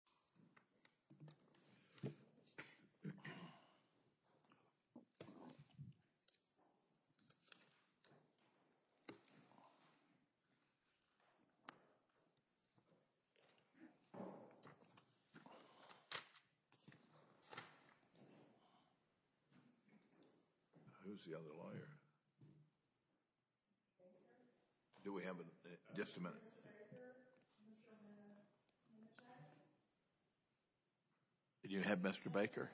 28 TRAVIS MCMASTER – Who is the other lawyer? Do we have just a minute. Did you have Mr. Baker?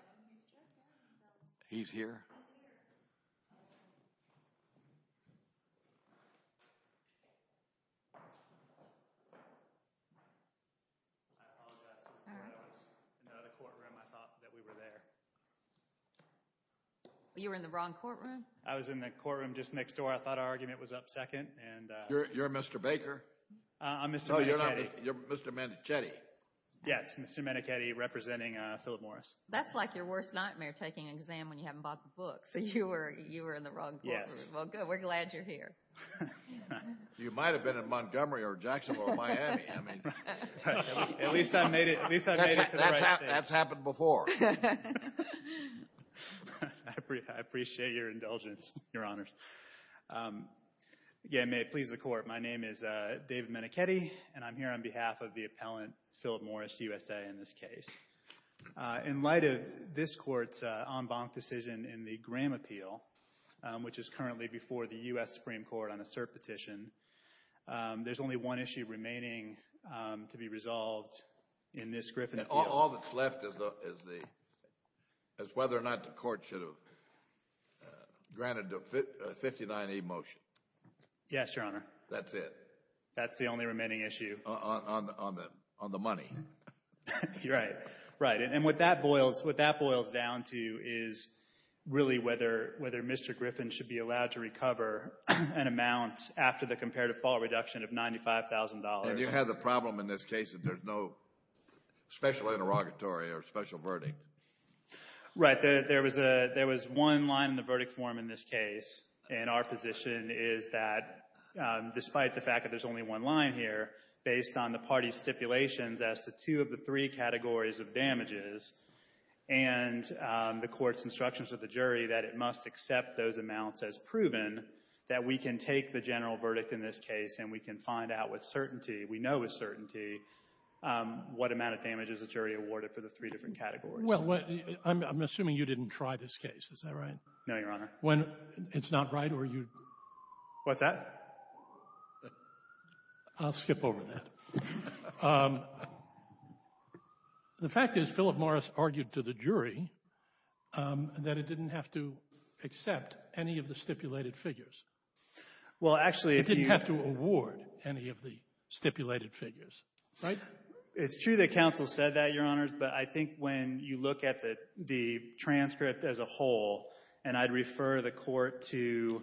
He's here. I apologize. I thought we were there. You were in the wrong courtroom. I was in the courtroom just next door. I thought our argument was up second. You're Mr. Baker. I'm Mr. Medicchetti. You're Mr. Medicchetti. Yes. Mr. Medicchetti representing Philip Morris. That's like your worst nightmare, taking an exam when you haven't bought the book. So you were in the wrong courtroom. Yes. Well, good. We're glad you're here. You might have been in Montgomery or Jacksonville or Miami. At least I made it to the right state. That's happened before. I'm a lawyer. I'm a lawyer. I'm a lawyer. I'm a lawyer. I'm a lawyer. I'm a lawyer. I'm a lawyer. I'm David Medicchetti, and I'm here on behalf of the appellant, Philip Morris, USA, in this case. In light of this court's en banc decision in the Graham appeal, which is currently before the U.S. Supreme Court on a cert petition, there's only one issue remaining to be resolved in this Griffin appeal. All that's left is whether or not the court should have granted a 59E motion. Yes, Your Honor. That's it. That's the only remaining issue. On the money. Right. Right. And what that boils down to is really whether Mr. Griffin should be allowed to recover an amount after the comparative fall reduction of $95,000. And you have the problem in this case that there's no special interrogatory or special verdict. Right. There was one line in the verdict form in this case, and our position is that despite the fact that there's only one line here, based on the party's stipulations as to two of the three categories of damages, and the court's instructions of the jury that it must accept those amounts as proven, that we can take the general verdict in this case, and we can find out with certainty, we know with certainty, what amount of damage is the jury awarded for the three different categories. Well, I'm assuming you didn't try this case. Is that right? No, Your Honor. When it's not right, or you? What's that? I'll skip over that. The fact is, Philip Morris argued to the jury that it didn't have to accept any of the stipulated figures. Well, actually, if you. It didn't have to award any of the stipulated figures, right? It's true that counsel said that, Your Honors, but I think when you look at the transcript as a whole, and I'd refer the court to,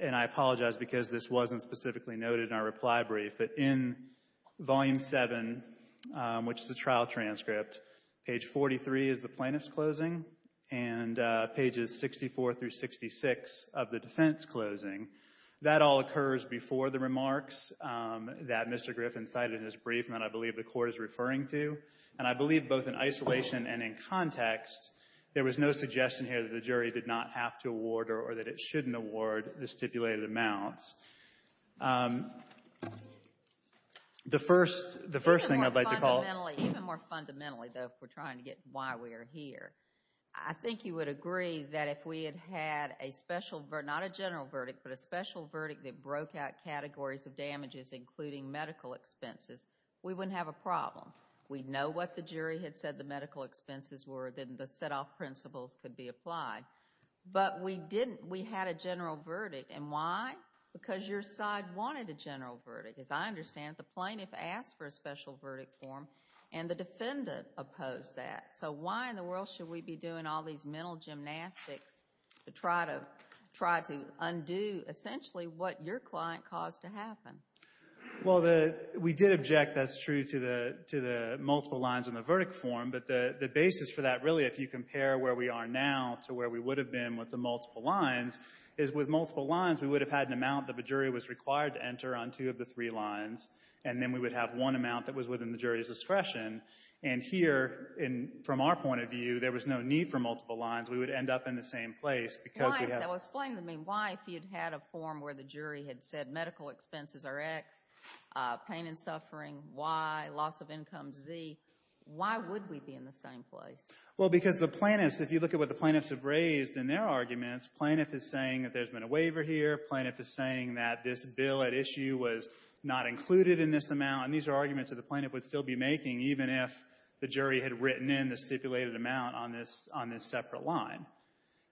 and I apologize because this wasn't specifically noted in our reply brief, but in Volume 7, which is the trial transcript, page 43 is the plaintiff's closing, and pages 64 through 66 of the defense closing, that all occurs before the remarks that Mr. Griffin cited in his brief, and that I believe the court is referring to. And I believe both in isolation and in context, there was no suggestion here that the jury did not have to award or that it shouldn't award the stipulated amounts. The first thing I'd like to call. Even more fundamentally, though, if we're trying to get why we are here, I think you would agree that if we had had a special, not a general verdict, but a special verdict that broke out categories of damages, including medical expenses, we wouldn't have a problem. We'd know what the jury had said the medical expenses were, then the set-off principles could be applied. But we didn't. We had a general verdict. And why? Because your side wanted a general verdict, as I understand it. The plaintiff asked for a special verdict form, and the defendant opposed that. So why in the world should we be doing all these mental gymnastics to try to undo, essentially, what your client caused to happen? Well, we did object, that's true, to the multiple lines in the verdict form. But the basis for that, really, if you compare where we are now to where we would have been with the multiple lines, is with multiple lines, we would have had an amount that the jury was required to enter on two of the three lines. And then we would have one amount that was within the jury's discretion. And here, from our point of view, there was no need for multiple lines. We would end up in the same place because we have. Why? If you'd had a form where the jury had said medical expenses are X, pain and suffering Y, loss of income Z, why would we be in the same place? Well, because the plaintiffs, if you look at what the plaintiffs have raised in their arguments, plaintiff is saying that there's been a waiver here. Plaintiff is saying that this bill at issue was not included in this amount. And these are arguments that the plaintiff would still be making, even if the jury had written in the stipulated amount on this separate line.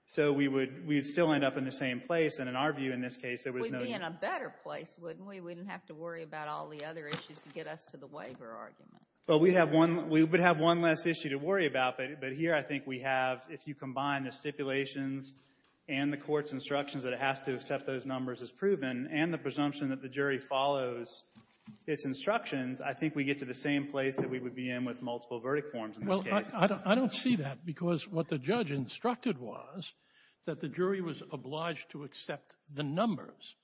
So we would still end up in the same place. And in our view, in this case, there was no need. We'd be in a better place, wouldn't we? We wouldn't have to worry about all the other issues to get us to the waiver argument. Well, we have one. We would have one less issue to worry about. But here, I think we have, if you combine the stipulations and the court's instructions that it has to accept those numbers as proven, and the presumption that the jury follows its instructions, I think we get to the same place that we would be in with multiple verdict forms in this case. I don't see that, because what the judge instructed was that the jury was obliged to accept the numbers.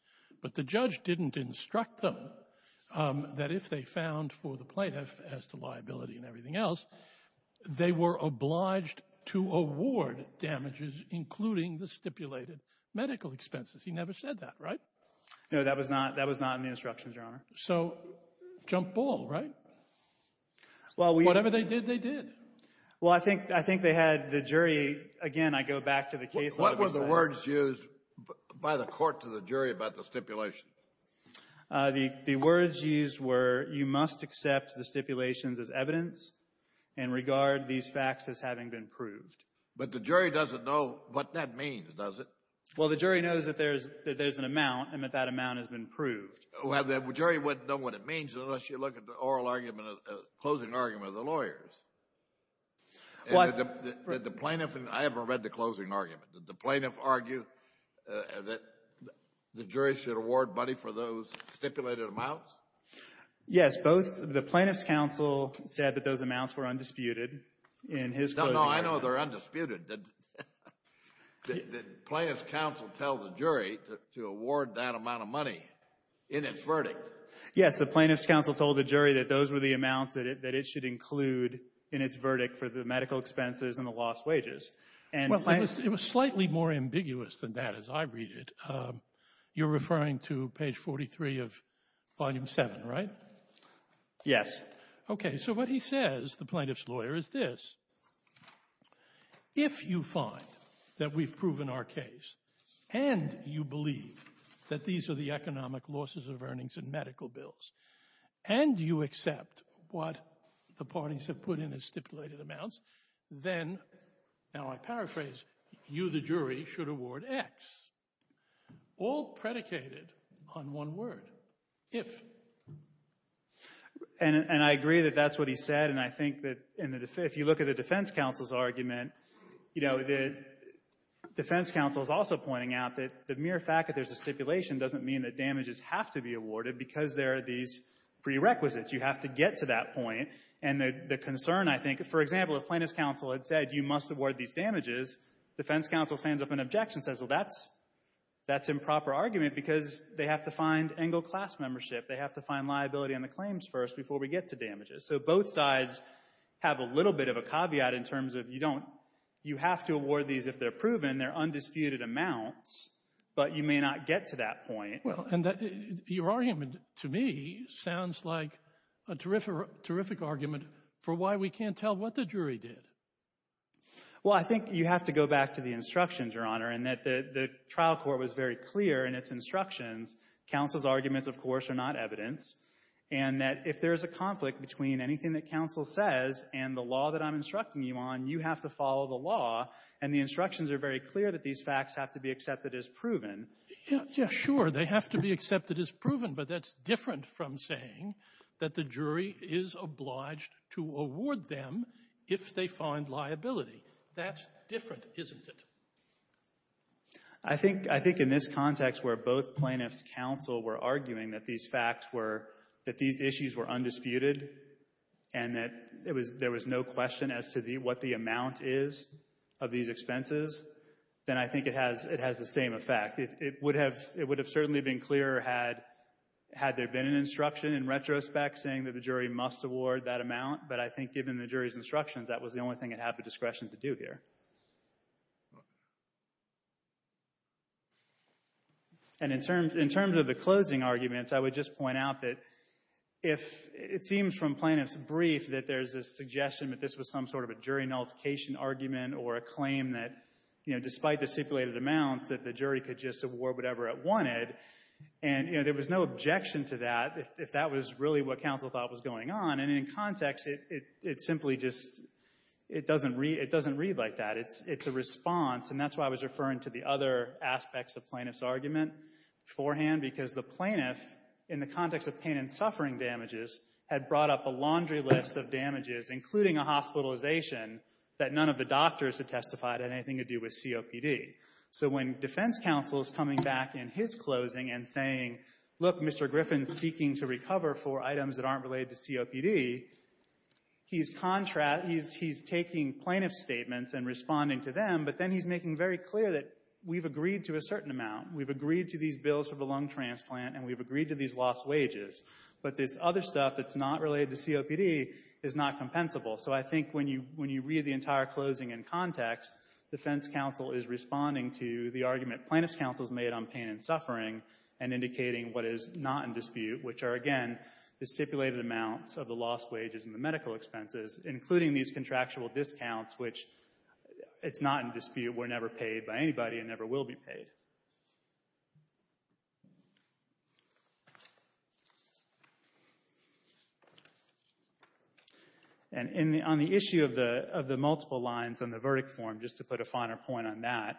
But the judge didn't instruct them that if they found for the plaintiff, as to liability and everything else, they were obliged to award damages, including the stipulated medical expenses. He never said that, right? No, that was not in the instructions, Your Honor. So jump ball, right? Whatever they did, they did. Well, I think they had the jury, again, I go back to the case law. What were the words used by the court to the jury about the stipulations? The words used were, you must accept the stipulations as evidence and regard these facts as having been proved. But the jury doesn't know what that means, does it? Well, the jury knows that there's an amount and that that amount has been proved. Well, the jury wouldn't know what it means unless you look at the oral argument, the closing argument of the lawyers. Well, I've never read the closing argument. Did the plaintiff argue that the jury should award money for those stipulated amounts? Yes, both the plaintiff's counsel said that those amounts were undisputed in his closing argument. No, I know they're undisputed. The plaintiff's counsel tells the jury to award that amount of money in its verdict. Yes, the plaintiff's counsel told the jury that those were the amounts that it should include in its verdict for the medical expenses and the lost wages. It was slightly more ambiguous than that as I read it. You're referring to page 43 of volume 7, right? Yes. OK, so what he says, the plaintiff's lawyer, is this. If you find that we've proven our case and you believe that these are the economic losses of earnings in medical bills and you accept what the parties have put in as stipulated amounts, then, now I paraphrase, you, the jury, should award X, all predicated on one word, if. And I agree that that's what he said, and I think that if you look at the defense counsel's argument, you know, the defense counsel is also pointing out that the mere fact that there's a stipulation doesn't mean that damages have to be awarded because there are these prerequisites. You have to get to that point. And the concern, I think, for example, if plaintiff's counsel had said you must award these damages, defense counsel stands up in objection and says, well, that's improper argument because they have to find Engle class membership, they have to find liability on the claims first before we get to damages. So both sides have a little bit of a caveat in terms of you don't, you have to award these if they're proven, they're undisputed amounts, but you may not get to that point. Well, and your argument, to me, sounds like a terrific argument for why we can't tell what the jury did. Well, I think you have to go back to the instructions, Your Honor, in that the trial court was very clear in its instructions, counsel's arguments, of course, are not evidence, and that if there's a conflict between anything that counsel says and the law that I'm instructing you on, you have to follow the law, and the instructions are very clear that these facts have to be accepted as proven. Yeah, sure, they have to be accepted as proven, but that's different from saying that the jury is obliged to award them if they find liability. That's different, isn't it? I think in this context where both plaintiffs' counsel were arguing that these facts were, that these issues were undisputed and that there was no question as to what the amount is of these expenses, then I think it has the same effect. It would have certainly been clearer had there been an instruction in retrospect saying that the jury must award that amount, but I think given the jury's instructions, that was the And in terms of the closing arguments, I would just point out that if it seems from plaintiff's brief that there's a suggestion that this was some sort of a jury nullification argument or a claim that, you know, despite the stipulated amounts, that the jury could just award whatever it wanted, and, you know, there was no objection to that if that was really what counsel thought was going on, and in context, it simply just, it doesn't read like that. It's a response, and that's why I was referring to the other aspects of plaintiff's argument beforehand because the plaintiff, in the context of pain and suffering damages, had brought up a laundry list of damages, including a hospitalization that none of the doctors had testified had anything to do with COPD. So when defense counsel is coming back in his closing and saying, look, Mr. Griffin's seeking to recover for items that aren't related to COPD, he's taking plaintiff's statements and responding to them, but then he's making very clear that we've agreed to a certain amount, we've agreed to these bills for the lung transplant, and we've agreed to these lost wages, but this other stuff that's not related to COPD is not compensable. So I think when you read the entire closing in context, defense counsel is responding to the argument plaintiff's counsel's made on pain and suffering and indicating what is not in dispute, which are, again, the stipulated amounts of the lost wages and the medical expenses, including these contractual discounts, which it's not in dispute, were never paid by anybody and never will be paid. And on the issue of the multiple lines on the verdict form, just to put a finer point on that,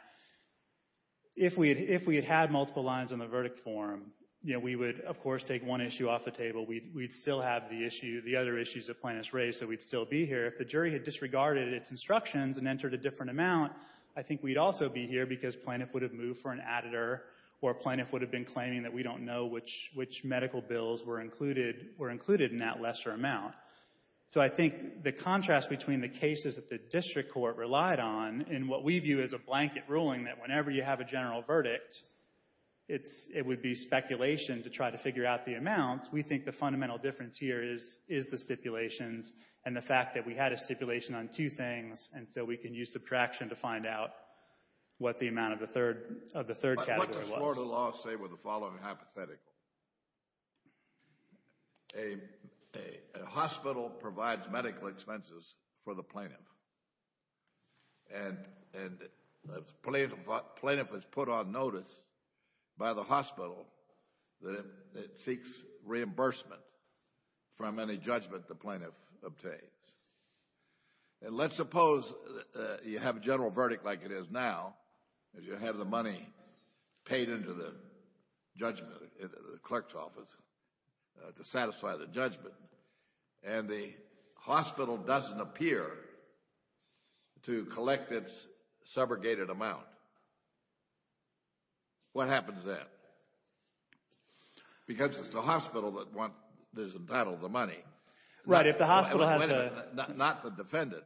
if we had had multiple lines on the verdict form, we would, of course, take one issue off the table. We'd still have the other issues the plaintiff's raised, so we'd still be here. If the jury had disregarded its instructions and entered a different amount, I think we'd also be here because plaintiff would have moved for an additor or plaintiff would have been claiming that we don't know which medical bills were included in that lesser amount. So I think the contrast between the cases that the district court relied on in what we view as a blanket ruling, that whenever you have a general verdict, it would be speculation to try to figure out the amounts, we think the fundamental difference here is the stipulations and the fact that we had a stipulation on two things, and so we can use subtraction to find out what the amount of the third category was. But what does Florida law say with the following hypothetical? A hospital provides medical expenses for the plaintiff, and the plaintiff is put on notice by the hospital that the it seeks reimbursement from any judgment the plaintiff obtains. And let's suppose you have a general verdict like it is now, as you have the money paid into the judgment in the clerk's office to satisfy the judgment, and the hospital doesn't appear to collect its subrogated amount. What happens then? Because it's the hospital that is entitled to the money, not the defendant.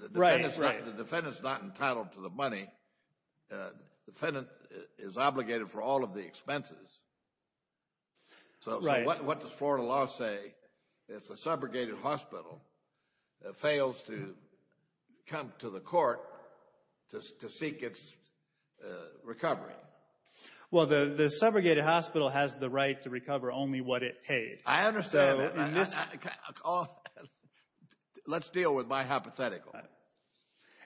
The defendant is not entitled to the money. The defendant is obligated for all of the expenses. So what does Florida law say if the subrogated hospital fails to come to the court to seek its recovery? Well, the subrogated hospital has the right to recover only what it paid. I understand. Let's deal with my hypothetical.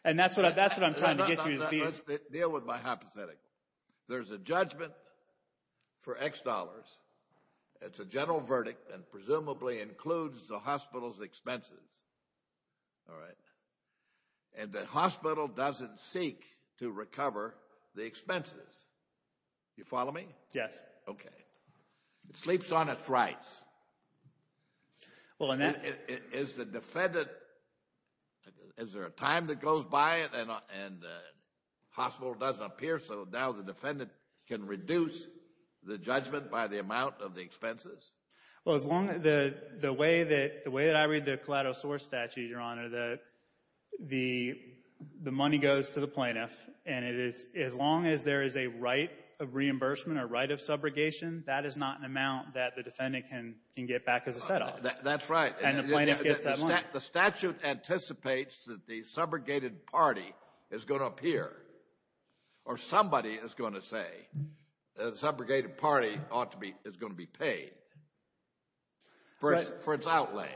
And that's what I'm trying to get you to deal with. Let's deal with my hypothetical. There's a judgment for X dollars. It's a general verdict and presumably includes the hospital's expenses. All right. And the hospital doesn't seek to recover the expenses. You follow me? Yes. Okay. It sleeps on its rights. Is there a time that goes by and the hospital doesn't appear so now the defendant can reduce the judgment by the amount of the expenses? Well, the way that I read the collateral source statute, Your Honor, the money goes to the plaintiff. And as long as there is a right of reimbursement or right of subrogation, that is not an amount that the defendant can get back as a set-off. That's right. And the plaintiff gets that money. The statute anticipates that the subrogated party is going to appear or somebody is going to say that the subrogated party is going to be paid for its outlay.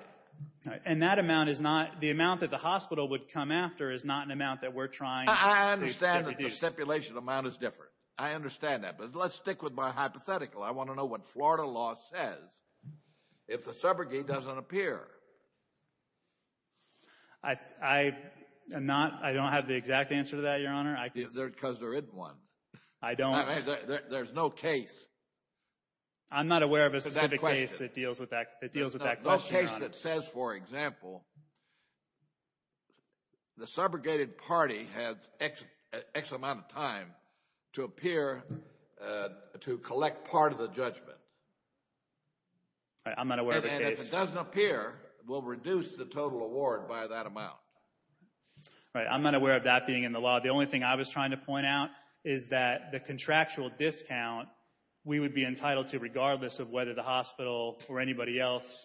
And that amount is not, the amount that the hospital would come after is not an amount that we're trying to reduce. I understand that the stipulation amount is different. I understand that. But let's stick with my hypothetical. I want to know what Florida law says if the subrogate doesn't appear. I don't have the exact answer to that, Your Honor. Is there because there isn't one? I don't. There's no case. I'm not aware of a specific case that deals with that question, Your Honor. No case that says, for example, the subrogated party has X amount of time to appear to collect part of the judgment. I'm not aware of a case. And if it doesn't appear, we'll reduce the total award by that amount. Right. I'm not aware of that being in the law. The only thing I was trying to point out is that the contractual discount we would be entitled to regardless of whether the hospital or anybody else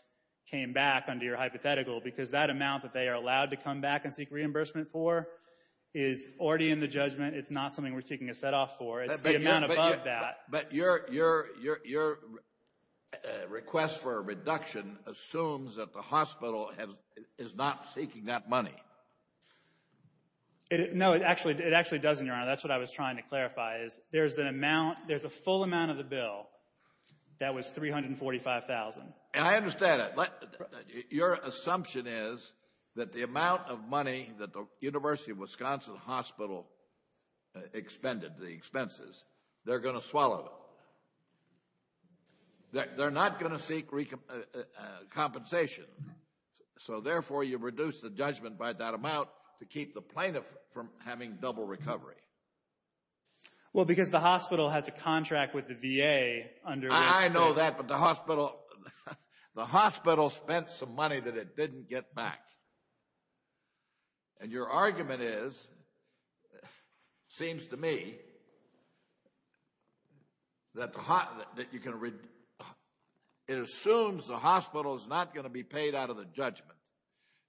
came back under your hypothetical because that amount that they are allowed to come back and seek reimbursement for is already in the judgment. It's not something we're taking a set off for. It's the amount above that. But your request for a reduction assumes that the hospital is not seeking that money. No, it actually doesn't, Your Honor. That's what I was trying to clarify is there's an amount, there's a full amount of the bill that was $345,000. And I understand that. Your assumption is that the amount of money that the University of Wisconsin Hospital expended, the expenses, they're going to swallow them. They're not going to seek compensation. So, therefore, you reduce the judgment by that amount to keep the plaintiff from having double recovery. Well, because the hospital has a contract with the VA under which to... I know that, but the hospital spent some money that it didn't get back. And your argument is, seems to me, that you can... It assumes the hospital is not going to be paid out of the judgment.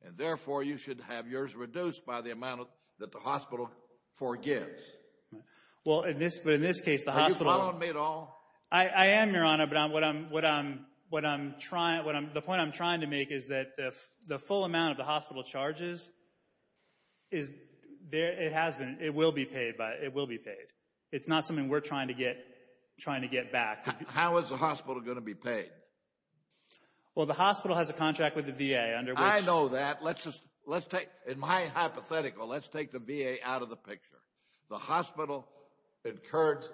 And, therefore, you should have yours reduced by the amount that the hospital forgives. Well, in this case, the hospital... Are you following me at all? I am, Your Honor. The point I'm trying to make is that the full amount of the hospital charges, it has been, it will be paid. It's not something we're trying to get back. How is the hospital going to be paid? Well, the hospital has a contract with the VA under which... I know that. The hospital incurred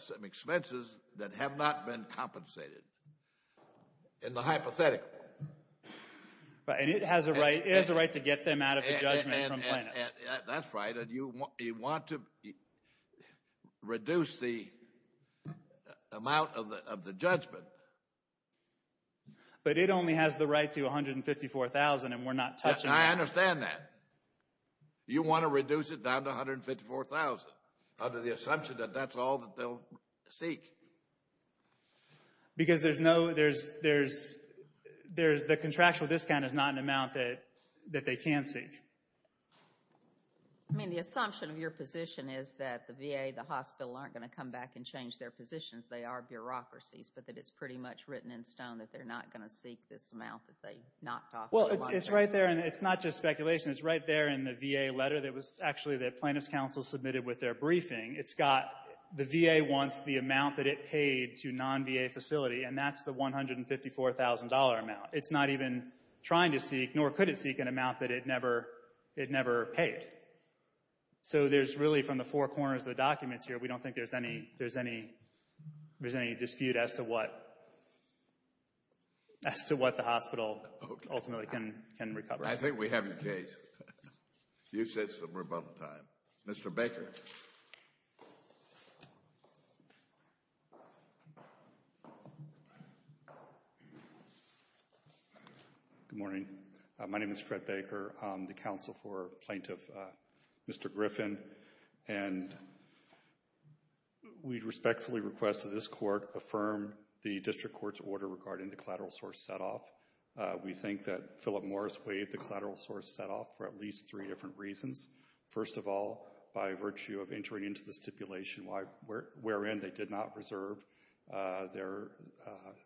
some expenses that have not been compensated in the hypothetical. And it has a right to get them out of the judgment from plaintiffs. That's right. And you want to reduce the amount of the judgment. But it only has the right to $154,000, and we're not touching that. I understand that. You want to reduce it down to $154,000 under the assumption that that's all that they'll seek. Because there's no... The contractual discount is not an amount that they can seek. I mean, the assumption of your position is that the VA, the hospital, aren't going to come back and change their positions. They are bureaucracies, but that it's pretty much written in stone that they're not going to seek this amount that they're not talking about. Well, it's right there, and it's not just speculation. It's right there in the VA letter that was actually the plaintiff's counsel submitted with their briefing. It's got... The VA wants the amount that it paid to non-VA facility, and that's the $154,000 amount. It's not even trying to seek, nor could it seek, an amount that it never paid. So there's really, from the four corners of the documents here, we don't think there's any dispute as to what the hospital ultimately can recover. I think we have your case. You said some rebuttal time. Mr. Baker. Good morning. My name is Fred Baker. I'm the counsel for plaintiff Mr. Griffin. And we respectfully request that this court affirm the district court's order regarding the collateral source setoff. We think that Philip Morris waived the collateral source setoff for at least three different reasons. First of all, by virtue of entering into the stipulation wherein they did not reserve their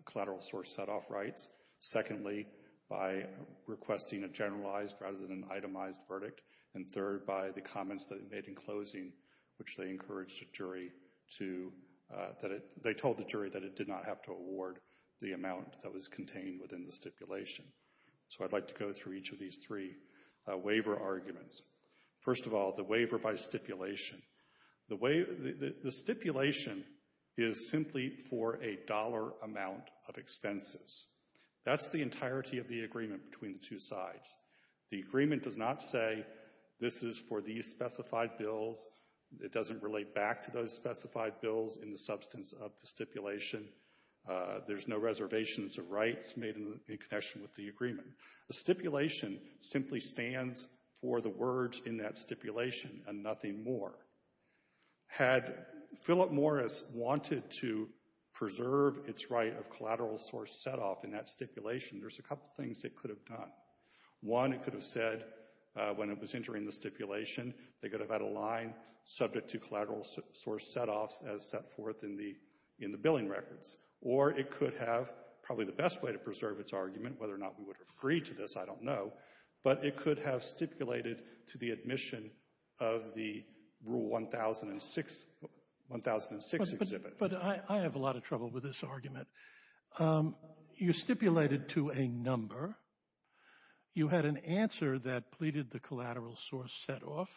collateral source setoff rights. Secondly, by requesting a generalized rather than itemized verdict. And third, by the comments that they made in closing, which they encouraged the jury to... They told the jury that it did not have to award the amount that was contained within the stipulation. So I'd like to go through each of these three waiver arguments. First of all, the waiver by stipulation. The stipulation is simply for a dollar amount of expenses. That's the entirety of the agreement between the two sides. The agreement does not say this is for these specified bills. It doesn't relate back to those specified bills in the substance of the stipulation. There's no reservations of rights made in connection with the agreement. The stipulation simply stands for the words in that stipulation and nothing more. Had Philip Morris wanted to preserve its right of collateral source setoff in that stipulation, there's a couple things it could have done. One, it could have said when it was entering the stipulation, they could have had a line subject to collateral source setoffs as set forth in the billing records. Or it could have, probably the best way to preserve its argument, whether or not we would have agreed to this, I don't know, but it could have stipulated to the admission of the Rule 1006 Exhibit. But I have a lot of trouble with this argument. You stipulated to a number. You had an answer that pleaded the collateral source setoff.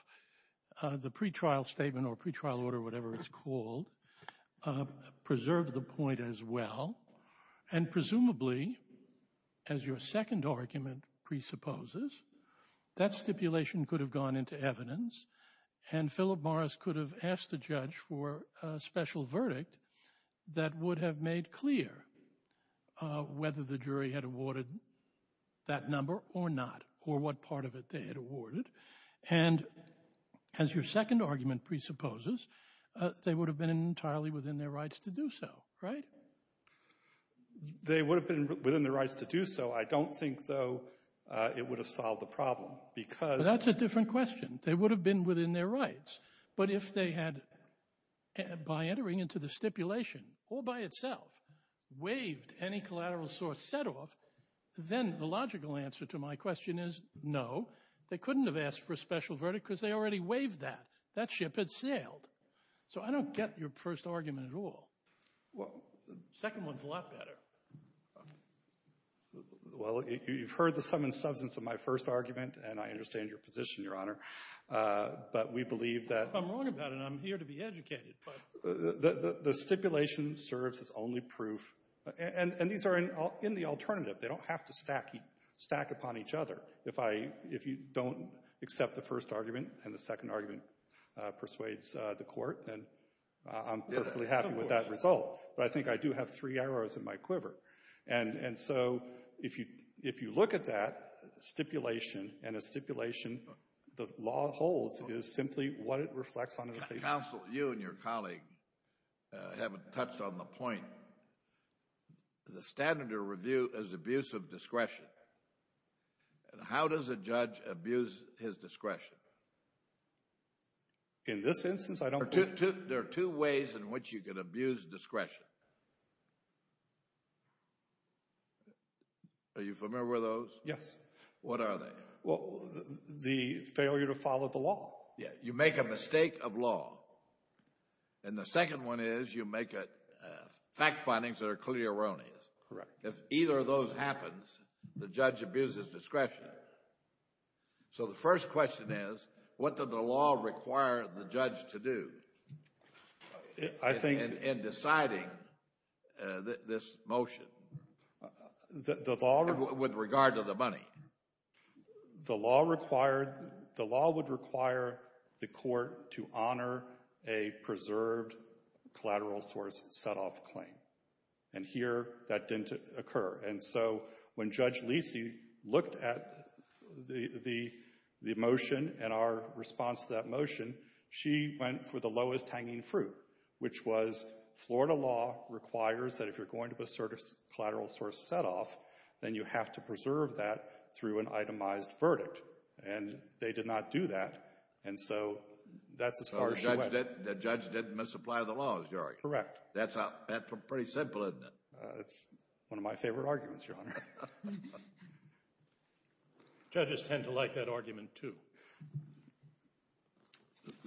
The pretrial statement or pretrial order, whatever it's called, preserved the point as well. And presumably, as your second argument presupposes, that stipulation could have gone into evidence and Philip Morris could have asked the judge for a special verdict that would have made clear whether the jury had awarded that number or not, or what part of it they had awarded. And as your second argument presupposes, they would have been entirely within their rights to do so, right? They would have been within their rights to do so. I don't think, though, it would have solved the problem because that's a different question. They would have been within their rights. But if they had, by entering into the stipulation, or by itself, waived any collateral source setoff, then the logical answer to my question is no. They couldn't have asked for a special verdict because they already waived that. That ship had sailed. So I don't get your first argument at all. The second one's a lot better. Well, you've heard the sum and substance of my first argument, and I understand your position, Your Honor. But we believe that... I'm wrong about it. I'm here to be educated. The stipulation serves as only proof. And these are in the alternative. They don't have to stack upon each other. If you don't accept the first argument and the second argument persuades the court, then I'm perfectly happy with that result. But I think I do have three arrows in my quiver. And so, if you look at that, stipulation and a stipulation, the law holds, is simply what it reflects onto the case. Counsel, you and your colleague haven't touched on the point. The standard of review is abuse of discretion. How does a judge abuse his discretion? In this instance, I don't believe... There are two ways in which you can abuse discretion. Are you familiar with those? Yes. What are they? Well, the failure to follow the law. Yeah, you make a mistake of law. And the second one is you make fact findings that are clearly erroneous. Correct. If either of those happens, the judge abuses discretion. So the first question is, what did the law require the judge to do in deciding this motion? The law... With regard to the money. The law required... The law would require the court to honor a preserved collateral source set-off claim. And here, that didn't occur. And so when Judge Lisi looked at the motion and our response to that motion, she went for the lowest hanging fruit, which was Florida law requires that if you're going to a collateral source set-off, then you have to preserve that through an itemized verdict. And they did not do that. And so that's as far as she went. So the judge didn't misapply the law, as you argue. Correct. That's pretty simple, isn't it? It's one of my favorite arguments, Your Honor. Judges tend to like that argument, too.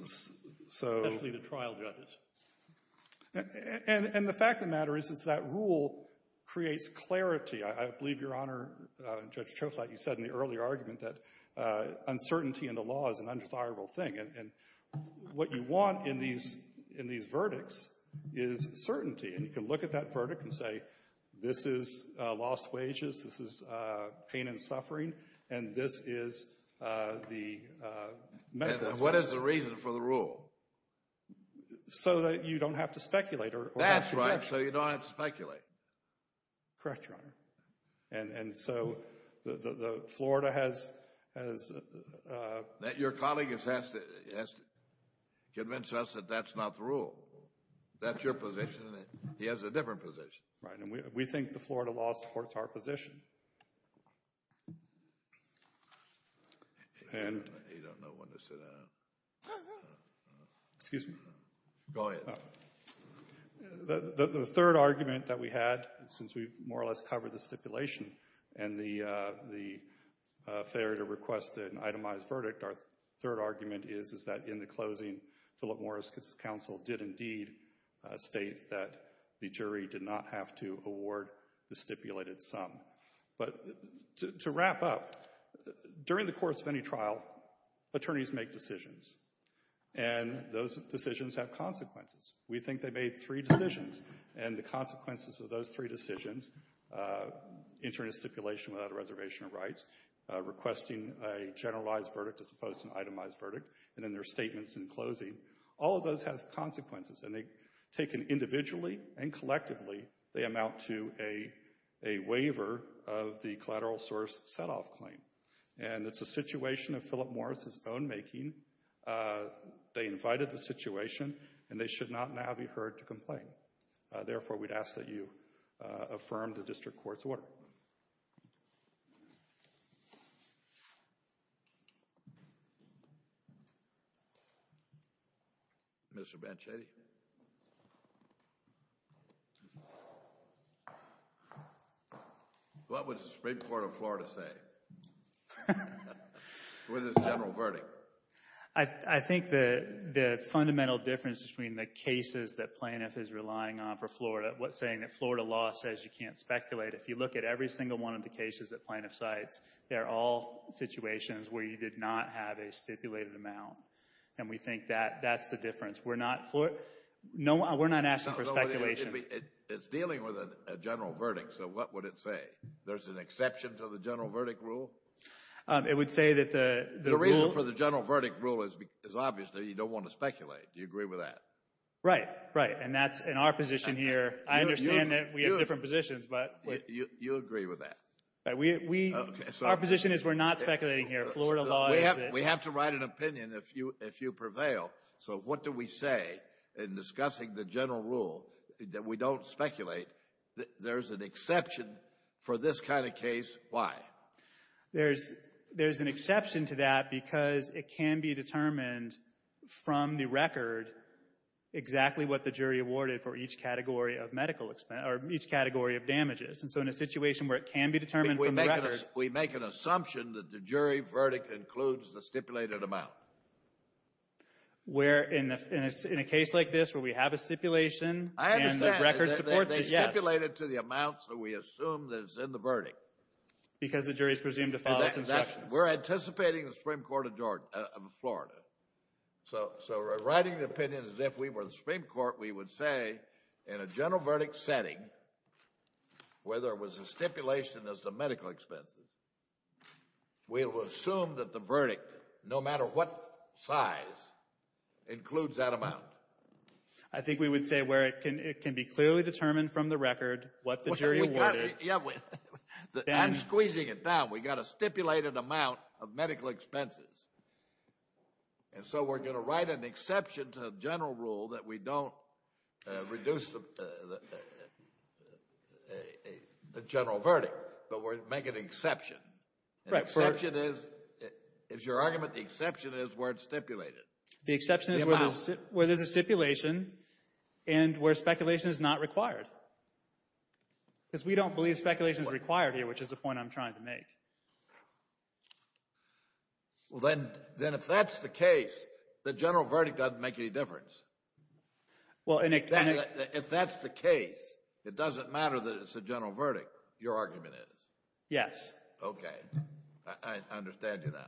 Especially the trial judges. And the fact of the matter is that rule creates clarity. I believe, Your Honor, Judge Choflat, you said in the earlier argument that uncertainty in the law is an undesirable thing. And what you want in these verdicts is certainty. And you can look at that verdict and say, this is lost wages, this is pain and suffering, and this is the medical expenses. And what is the reason for the rule? So that you don't have to speculate. That's right. So you don't have to speculate. Correct, Your Honor. Your colleague has to convince us that that's not the rule. That's your position, and he has a different position. Right. And we think the Florida law supports our position. You don't know when to sit down. Excuse me. Go ahead. The third argument that we had, since we've more or less covered the stipulation and the failure to request an itemized verdict, our third argument is that in the closing, Philip Morris' counsel did indeed state that the jury did not have to award the stipulated sum. But to wrap up, during the course of any trial, attorneys make decisions. And those decisions have consequences. We think they made three decisions. And the consequences of those three decisions, entering a stipulation without a reservation of rights, requesting a generalized verdict as opposed to an itemized verdict, and then their statements in closing, all of those have consequences. And taken individually and collectively, they amount to a waiver of the collateral source set-off claim. And it's a situation of Philip Morris' own making. They invited the situation, and they should not now be heard to complain. Therefore, we'd ask that you affirm the district court's order. Thank you. Mr. Banchetti? What would the Supreme Court of Florida say with this general verdict? I think the fundamental difference between the cases that Plaintiff is relying on for Florida, what's saying that Florida law says you can't speculate, if you look at every single one of the cases that Plaintiff cites, they're all situations where you did not have a stipulated amount. And we think that that's the difference. We're not asking for speculation. It's dealing with a general verdict, so what would it say? There's an exception to the general verdict rule? It would say that the rule – The reason for the general verdict rule is obviously you don't want to speculate. Do you agree with that? Right, right. And that's in our position here. I understand that we have different positions. You agree with that? Our position is we're not speculating here. Florida law is that – We have to write an opinion if you prevail. So what do we say in discussing the general rule that we don't speculate? There's an exception for this kind of case. Why? There's an exception to that because it can be determined from the record exactly what the jury awarded for each category of medical expense or each category of damages. And so in a situation where it can be determined from the record – We make an assumption that the jury verdict includes the stipulated amount. Where in a case like this where we have a stipulation and the record supports it, yes. I understand. They stipulate it to the amount that we assume is in the verdict. Because the jury is presumed to follow its instructions. We're anticipating the Supreme Court of Florida. So writing the opinion as if we were the Supreme Court, we would say, in a general verdict setting, where there was a stipulation as to medical expenses, we will assume that the verdict, no matter what size, includes that amount. I think we would say where it can be clearly determined from the record what the jury awarded. I'm squeezing it down. We've got a stipulated amount of medical expenses. And so we're going to write an exception to the general rule that we don't reduce the general verdict. But we're making an exception. The exception is – is your argument the exception is where it's stipulated? The exception is where there's a stipulation and where speculation is not required. Because we don't believe speculation is required here, which is the point I'm trying to make. Well, then if that's the case, the general verdict doesn't make any difference. If that's the case, it doesn't matter that it's a general verdict. Your argument is. Yes. Okay. I understand you now.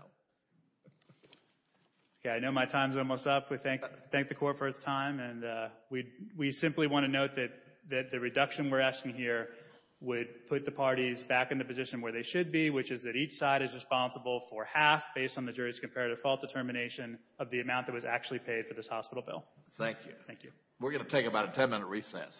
I know my time's almost up. We thank the court for its time. And we simply want to note that the reduction we're asking here would put the parties back into position where they should be, which is that each side is responsible for half, based on the jury's comparative fault determination, of the amount that was actually paid for this hospital bill. Thank you. Thank you. We're going to take about a 10-minute recess.